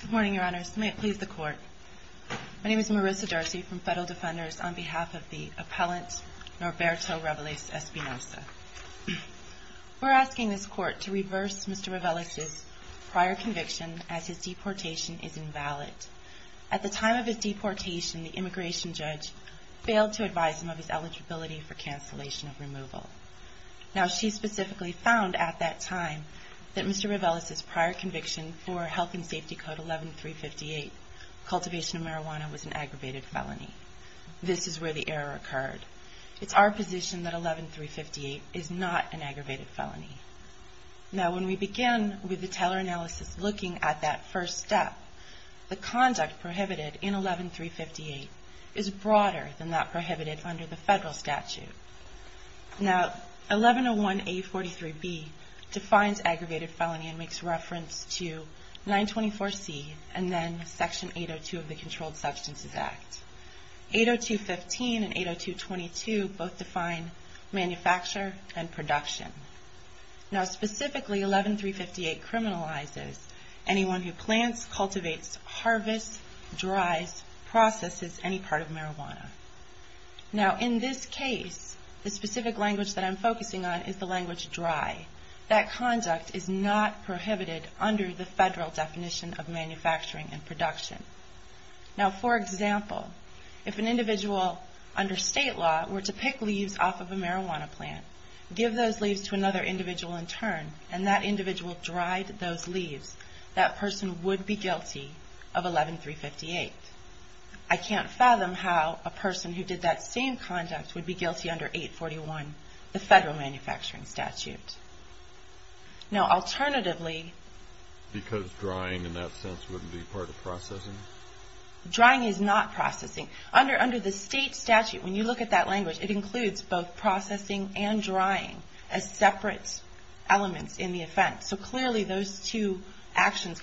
Good morning, Your Honors. May it please the Court. My name is Marissa Darcy from Federal Defenders on behalf of the appellant Norberto Reveles-Espinoza. We're asking this Court to reverse Mr. Reveles' prior conviction as his deportation is invalid. At the time of his deportation, the immigration judge failed to advise him of his eligibility for cancellation of removal. Now, she specifically found at that time that Mr. Reveles' prior conviction for Health and Safety Code 11358, cultivation of marijuana, was an aggravated felony. This is where the error occurred. It's our position that 11358 is not an aggravated felony. Now, when we begin with the teller analysis looking at that first step, the conduct prohibited in 11358 is broader than that prohibited under the federal statute. Now, 1101A43B defines aggravated felony and makes reference to 924C and then Section 802 of the Controlled Substances Act. 802.15 and 802.22 both define manufacture and production. Now, specifically, 11358 criminalizes anyone who plants, cultivates, harvests, dries, processes any part of marijuana. Now, in this case, the specific language that I'm focusing on is the language dry. That conduct is not prohibited under the federal definition of manufacturing and production. Now, for example, if an individual under state law were to pick leaves off of a marijuana plant, give those leaves, that person would be guilty of 11358. I can't fathom how a person who did that same conduct would be guilty under 841, the federal manufacturing statute. Now, alternatively... Because drying, in that sense, wouldn't be part of processing? Drying is not processing. Under the state statute, when you look at that language, it would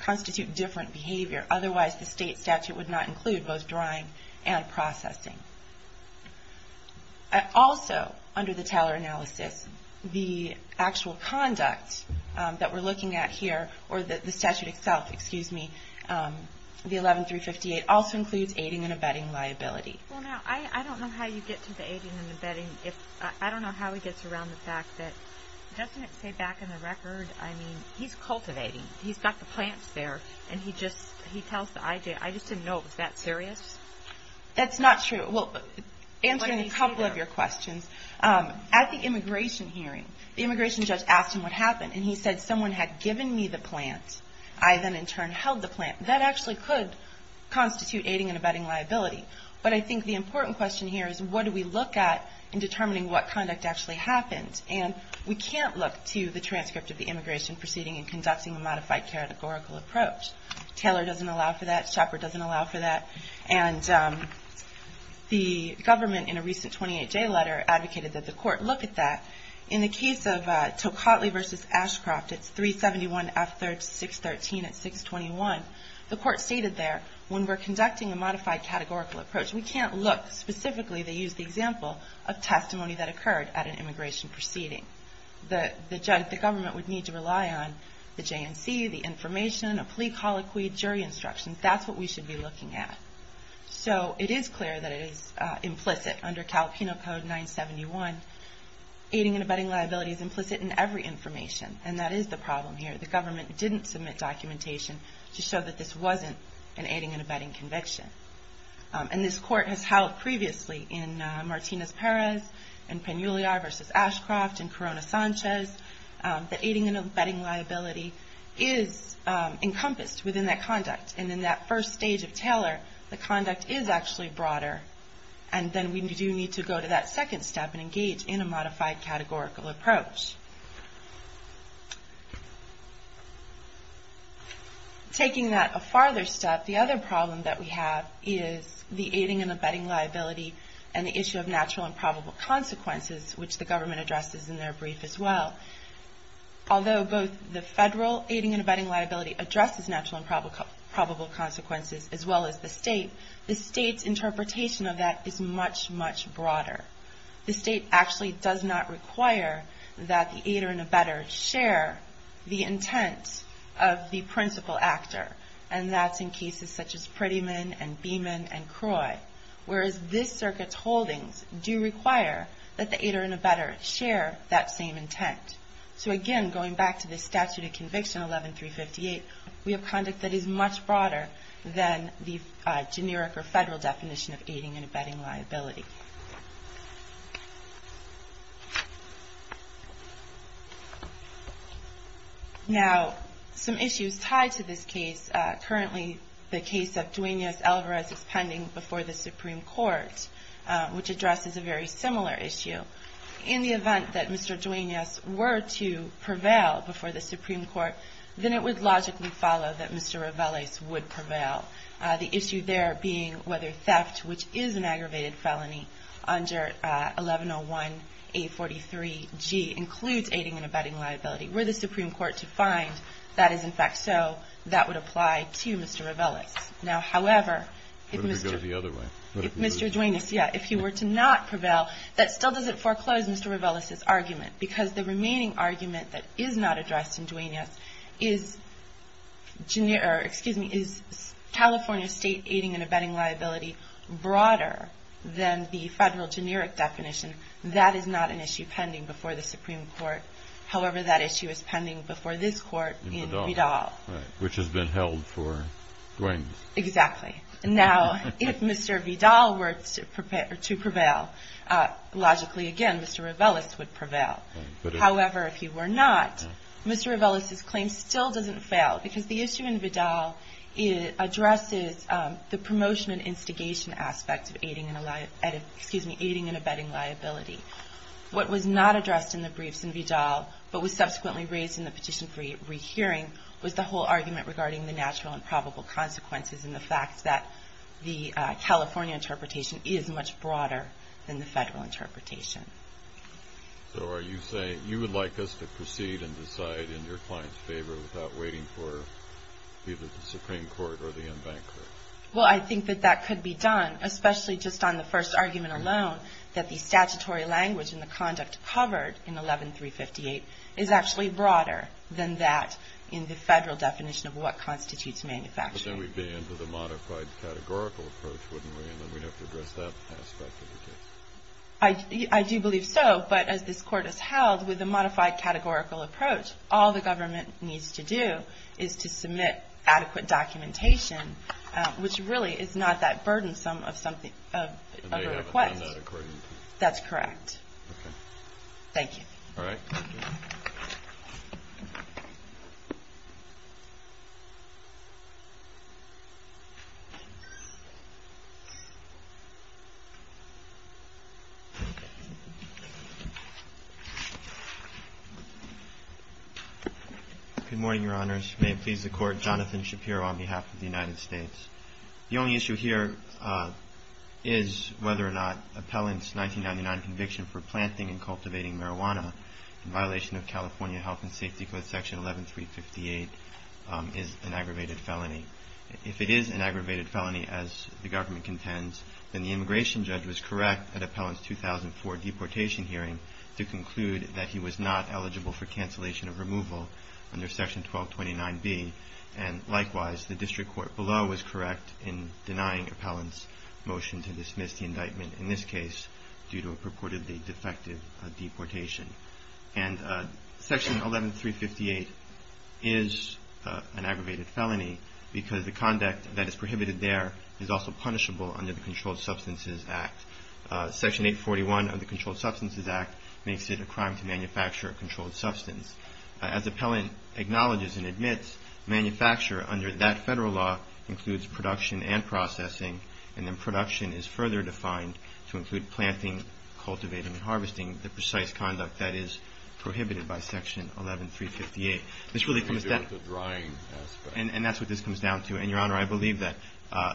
constitute different behavior. Otherwise, the state statute would not include both drying and processing. Also, under the Taylor analysis, the actual conduct that we're looking at here, or the statute itself, excuse me, the 11358, also includes aiding and abetting liability. Well, now, I don't know how you get to the aiding and abetting. I don't know how he gets around the fact that, doesn't it say back in the record, I mean, he's cultivating. He's got the plants there, and he just, he tells the IJ. I just didn't know it was that serious. That's not true. Well, answering a couple of your questions, at the immigration hearing, the immigration judge asked him what happened, and he said, someone had given me the plant. I then, in turn, held the plant. That actually could constitute aiding and abetting liability. But I think the important question here is, what do we look at in determining what conduct actually happened? And we can't look to the transcript of the immigration proceeding in conducting a modified categorical approach. Taylor doesn't allow for that. Shepard doesn't allow for that. And the government, in a recent 28-J letter, advocated that the court look at that. In the case of Tocatli v. Ashcroft, it's 371F613 at 621. The court stated there, when we're conducting a modified categorical approach, we can't look specifically, they had an immigration proceeding. The government would need to rely on the JNC, the information, a plea colloquy, jury instructions. That's what we should be looking at. So, it is clear that it is implicit under CalPINO Code 971. Aiding and abetting liability is implicit in every information, and that is the problem here. The government didn't submit documentation to show that this wasn't an aiding and abetting conviction. And this court has held previously in Martinez-Perez, in Peñuliar v. Ashcroft, in Corona-Sanchez, that aiding and abetting liability is encompassed within that conduct. And in that first stage of Taylor, the conduct is actually broader. And then we do need to go to that second step and engage in a modified categorical approach. Taking that a farther step, the other problem that we have is the issue of natural and probable consequences, which the government addresses in their brief as well. Although both the federal aiding and abetting liability addresses natural and probable consequences, as well as the state, the state's interpretation of that is much, much broader. The state actually does not require that the aider and abetter share the intent of the principal actor. And that's in cases such as Prettyman and Beeman and Holdings do require that the aider and abetter share that same intent. So again, going back to the statute of conviction 11-358, we have conduct that is much broader than the generic or federal definition of aiding and abetting liability. Now some issues tied to this case, currently the case of Duenas-Alvarez is pending before the Supreme Court, which addresses a very similar issue. In the event that Mr. Duenas were to prevail before the Supreme Court, then it would logically follow that Mr. Riveles would prevail. The issue there being whether theft, which is an aggravated felony under 1101-843-G, includes aiding and abetting liability. Were the Supreme Court to find that is in fact so, that would apply to Mr. Riveles. Now however, if Mr. Duenas, if he were to not prevail, that still doesn't foreclose Mr. Riveles' argument. Because the remaining argument that is not addressed in Duenas is California state aiding and abetting liability broader than the federal generic definition. That is not an issue pending before the Supreme Court. However, that issue is pending before this court in Vidal. Which has been held for Duenas. Exactly. Now if Mr. Vidal were to prevail, logically again Mr. Riveles would prevail. However if he were not, Mr. Riveles' claim still doesn't fail. Because the issue in Vidal addresses the promotion and instigation aspect of aiding and abetting liability. What was not addressed in the briefs in Vidal, but was subsequently raised in the petition for rehearing, was the whole argument regarding the natural and probable consequences and the fact that the California interpretation is much broader than the federal interpretation. So are you saying, you would like us to proceed and decide in your client's favor without waiting for either the Supreme Court or the In-Bank Court? Well I think that that could be done. Especially just on the first argument alone, that the issue covered in 11-358 is actually broader than that in the federal definition of what constitutes manufacturing. But then we'd be into the modified categorical approach, wouldn't we? And then we'd have to address that aspect of the case. I do believe so. But as this court has held, with the modified categorical approach, all the government needs to do is to submit adequate documentation, which really is not that burdensome of a request. And they haven't done that according to you? That's correct. Thank you. All right. Good morning, Your Honors. May it please the Court, Jonathan Shapiro on behalf of the United States Department of Justice, to confirm the non-conviction for planting and cultivating marijuana in violation of California Health and Safety Code Section 11-358 is an aggravated felony. If it is an aggravated felony, as the government contends, then the immigration judge was correct at Appellant's 2004 deportation hearing to conclude that he was not eligible for cancellation of removal under Section 1229B. And likewise, the District Court below was correct in denying Appellant's motion to dismiss the indictment, in this case due to a purportedly defective deportation. And Section 11-358 is an aggravated felony because the conduct that is prohibited there is also punishable under the Controlled Substances Act. Section 841 of the Controlled Substances Act makes it a crime to manufacture a controlled substance. As Appellant acknowledges and admits, manufacture under that federal law includes production and processing, and then production is further defined to include planting, cultivating, and harvesting, the precise conduct that is prohibited by Section 11-358. This really comes down to the drying aspect. And that's what this comes down to. And, Your Honor, I believe that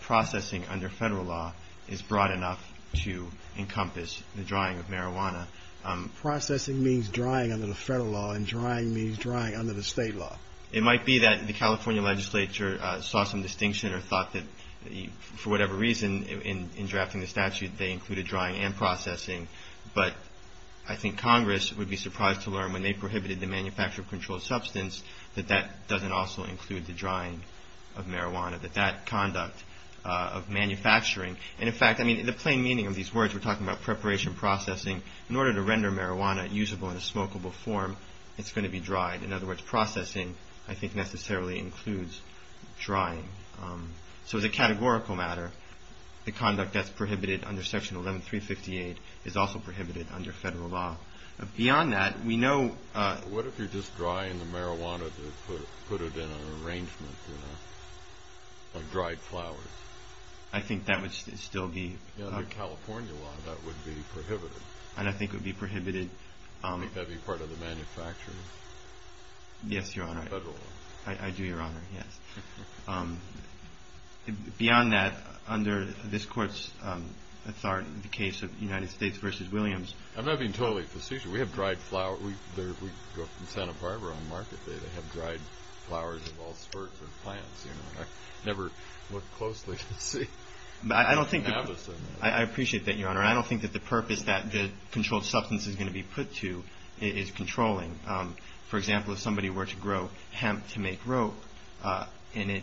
processing under federal law is broad enough to encompass the drying of marijuana. Processing means drying under the federal law, and drying means drying under the state law. It might be that the California legislature saw some distinction or thought that, for whatever reason, in drafting the statute, they included drying and processing. But I think Congress would be surprised to learn, when they prohibited the manufacture of controlled substance, that that doesn't also include the drying of marijuana, that that conduct of manufacturing. And, in fact, I mean, the plain meaning of these words, we're talking about preparation processing, in order to render marijuana usable in a smokable form, it's going to be dried. In other words, processing, I think, necessarily includes drying. So as a categorical matter, the conduct that's prohibited under Section 11-358 is also prohibited under federal law. Beyond that, we know... What if you're just drying the marijuana to put it in an arrangement, you know, like dried flowers? I think that would still be... Under California law, that would be prohibited. And I think it would be prohibited... Yes, Your Honor. Federal law. I do, Your Honor. Yes. Beyond that, under this Court's authority, in the case of United States v. Williams... I'm not being totally facetious. We have dried flowers. We go up to Santa Barbara on Market Day. They have dried flowers of all sorts of plants, you know. I never look closely to see. But I don't think that... I appreciate that, Your Honor. I don't think that the purpose that the controlled substance is going to be put to is controlling. For example, if somebody were to grow hemp to make rope, and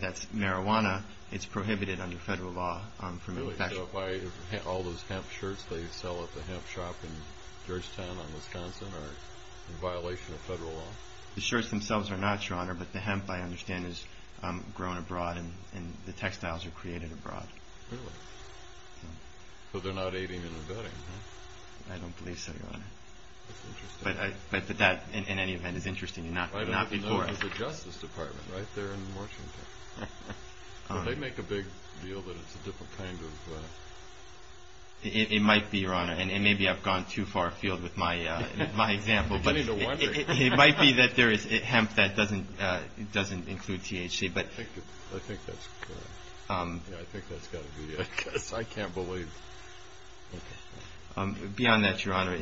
that's marijuana, it's prohibited under federal law. Really? So why... All those hemp shirts they sell at the hemp shop in Georgetown, Wisconsin, are in violation of federal law? The shirts themselves are not, Your Honor, but the hemp, I understand, is grown abroad and the textiles are created abroad. Really? So they're not aiding and abetting, huh? I don't believe so, Your Honor. That's interesting. But that, in any event, is interesting, and not before. I know there's a Justice Department right there in Washington. Would they make a big deal that it's a different kind of... It might be, Your Honor, and maybe I've gone too far afield with my example, but... You don't need to wonder. It might be that there is hemp that doesn't include THC, but... I think that's... Yeah, I think that's got to be it, because I can't believe... Beyond that, Your Honor,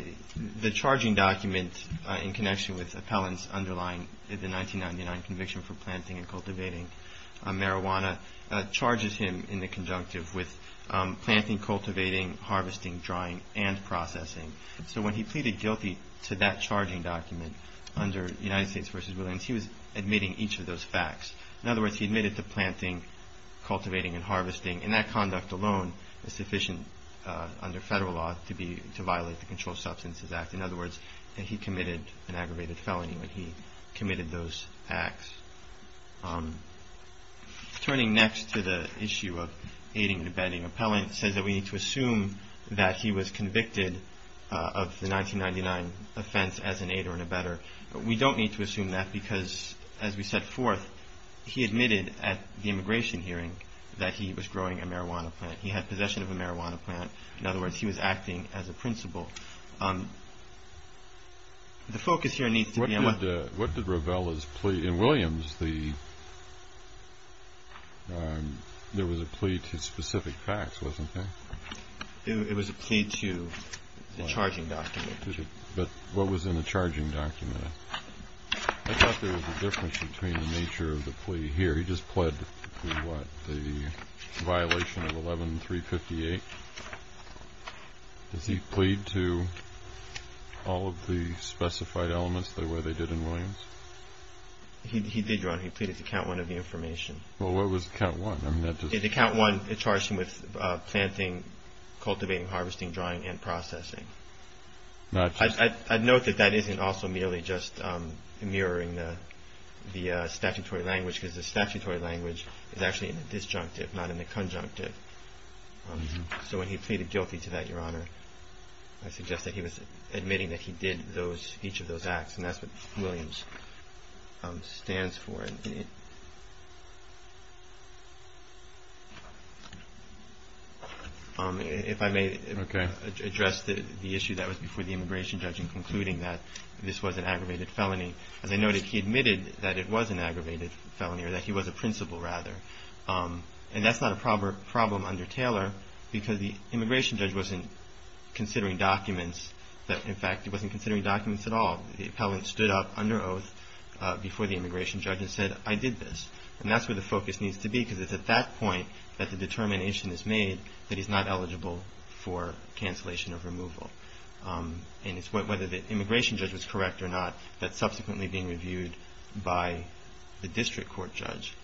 the charging document in connection with appellants underlying the 1999 conviction for planting and cultivating marijuana charges him in the conjunctive with planting, cultivating, harvesting, drying, and processing. So when he pleaded guilty to that charging document under United States v. Williams, he was admitting each of those facts. In other words, he admitted to planting, cultivating, and harvesting, and that conduct alone is sufficient under federal law to violate the Controlled Substances Act. In other words, he committed an aggravated felony when he committed those acts. Turning next to the issue of aiding and abetting an appellant, it says that we need to assume that he was convicted of the 1999 offense as an aider and abetter. We don't need to assume that because, as we set forth, he admitted at the immigration hearing that he was growing a marijuana plant. He had possession of a marijuana plant. In other words, he was acting as a principal. The focus here needs to be on what... What did Ravella's plea... In Williams, there was a plea to specific facts, wasn't there? It was a plea to the charging document. But what was in the charging document? I thought there was a difference between the nature of the plea here. He just pled the violation of 11-358. Does he plead to all of the specified elements the way they did in Williams? He did, Your Honor. He pleaded to count one of the information. Well, what was count one? The count one charged him with planting, cultivating, harvesting, drying, and processing. I'd note that that isn't also merely just mirroring the statutory language because the statutory language is actually in the disjunctive, not in the conjunctive. So when he pleaded guilty to that, Your Honor, I suggest that he was admitting that he did each of those acts. And that's what Williams stands for. If I may address the issue that was before the immigration judge in concluding that this was an aggravated felony. As I noted, he admitted that it was an aggravated felony or that he was a principal, rather. And that's not a problem under Taylor because the immigration judge wasn't considering documents. In fact, he wasn't considering documents at all. The appellant stood up under oath before the immigration judge and said, I did this. And that's where the focus needs to be because it's at that point that the determination is made that he's not eligible for cancellation of removal. And it's whether the immigration judge was correct or not that's subsequently being reviewed by the district court judge.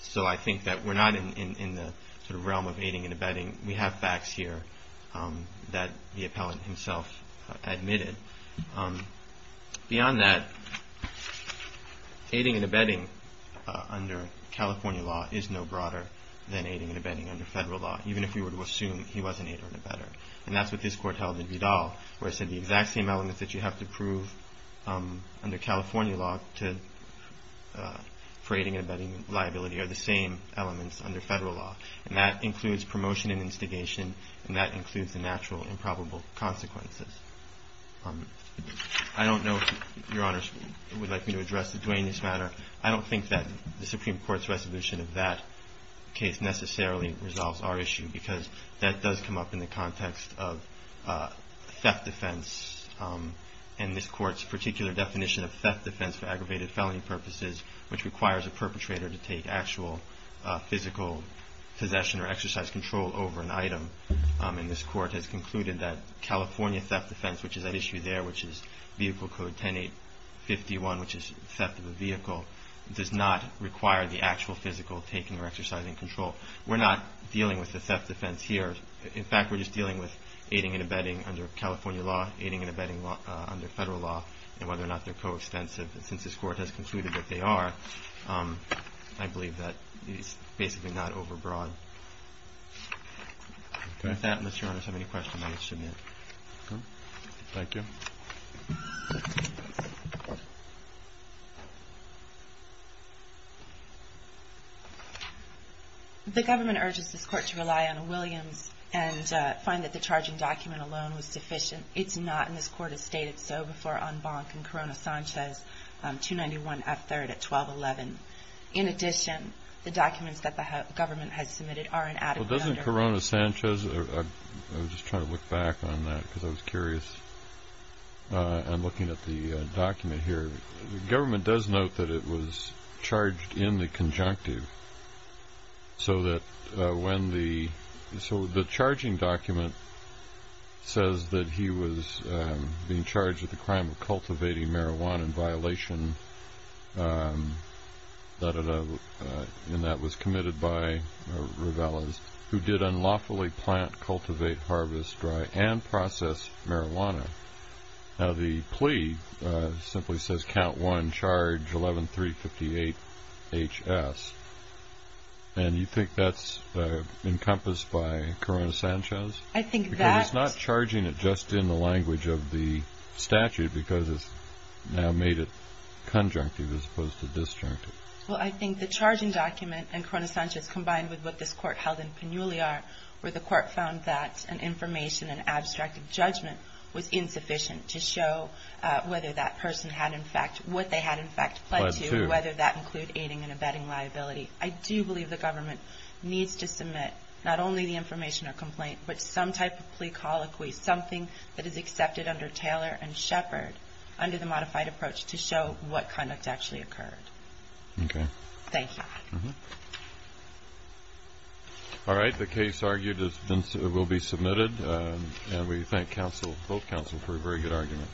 So I think that we're not in the realm of aiding and abetting. We have facts here that the appellant himself admitted. Beyond that, aiding and abetting under California law is no broader than aiding and abetting under federal law even if we were to assume he was an aider and abetter. And that's what this court held in Vidal where it said the exact same elements that you have to prove under California law for aiding and abetting liability are the same elements under federal law. And that includes promotion and instigation and that includes the natural and probable consequences. I don't know if Your Honor would like me to address the Duane in this matter. I don't think that the Supreme Court's resolution of that case necessarily resolves our issue because that does come up in the context of theft defense and this court's particular definition of theft defense for aggravated felony purposes which requires a perpetrator to take actual physical possession or exercise control over an item. And this court has concluded that California theft defense, which is at issue there, which is Vehicle Code 10-8-51, which is theft of a vehicle, does not require the actual physical taking or exercising control. We're not dealing with the theft defense here. In fact, we're just dealing with aiding and abetting under California law, aiding and abetting under federal law and whether or not they're coextensive. Since this court has concluded that they are, I believe that it is basically not overbroad. With that, does Your Honor have any questions? The government urges this court to rely on Williams and find that the charging document alone was sufficient. It's not, and this court has stated so before en banc in Corona Sanchez 291F3 at 12-11. In addition, the documents that the government has submitted are inadequate under... Well, doesn't Corona Sanchez... I was just trying to look back on that because I was curious. I'm looking at the document here. The government does note that it was charged in the conjunctive so that when the... So the charging document says that he was being charged with the crime of cultivating marijuana in violation and that was committed by Rivelas who did unlawfully plant, cultivate, harvest, dry and process marijuana. Now the plea simply says, count one, charge 11-358HS. And you think that's encompassed by Corona Sanchez? I think that... Because it's not charging it just in the language of the statute because it's now made it conjunctive as opposed to disjunctive. Well, I think the charging document and Corona Sanchez combined with what this court held in Pinuliar where the court found that an information and abstract judgment was insufficient to show whether that person had in fact, what they had in fact pledged to, whether that included aiding and abetting liability. I do believe the government needs to submit not only the information or complaint but some type of plea colloquy, something that is accepted under Taylor and Shepard under the modified approach to show what conduct actually occurred. Okay. Thank you. All right. The case argued will be submitted and we thank both counsel for a very good argument.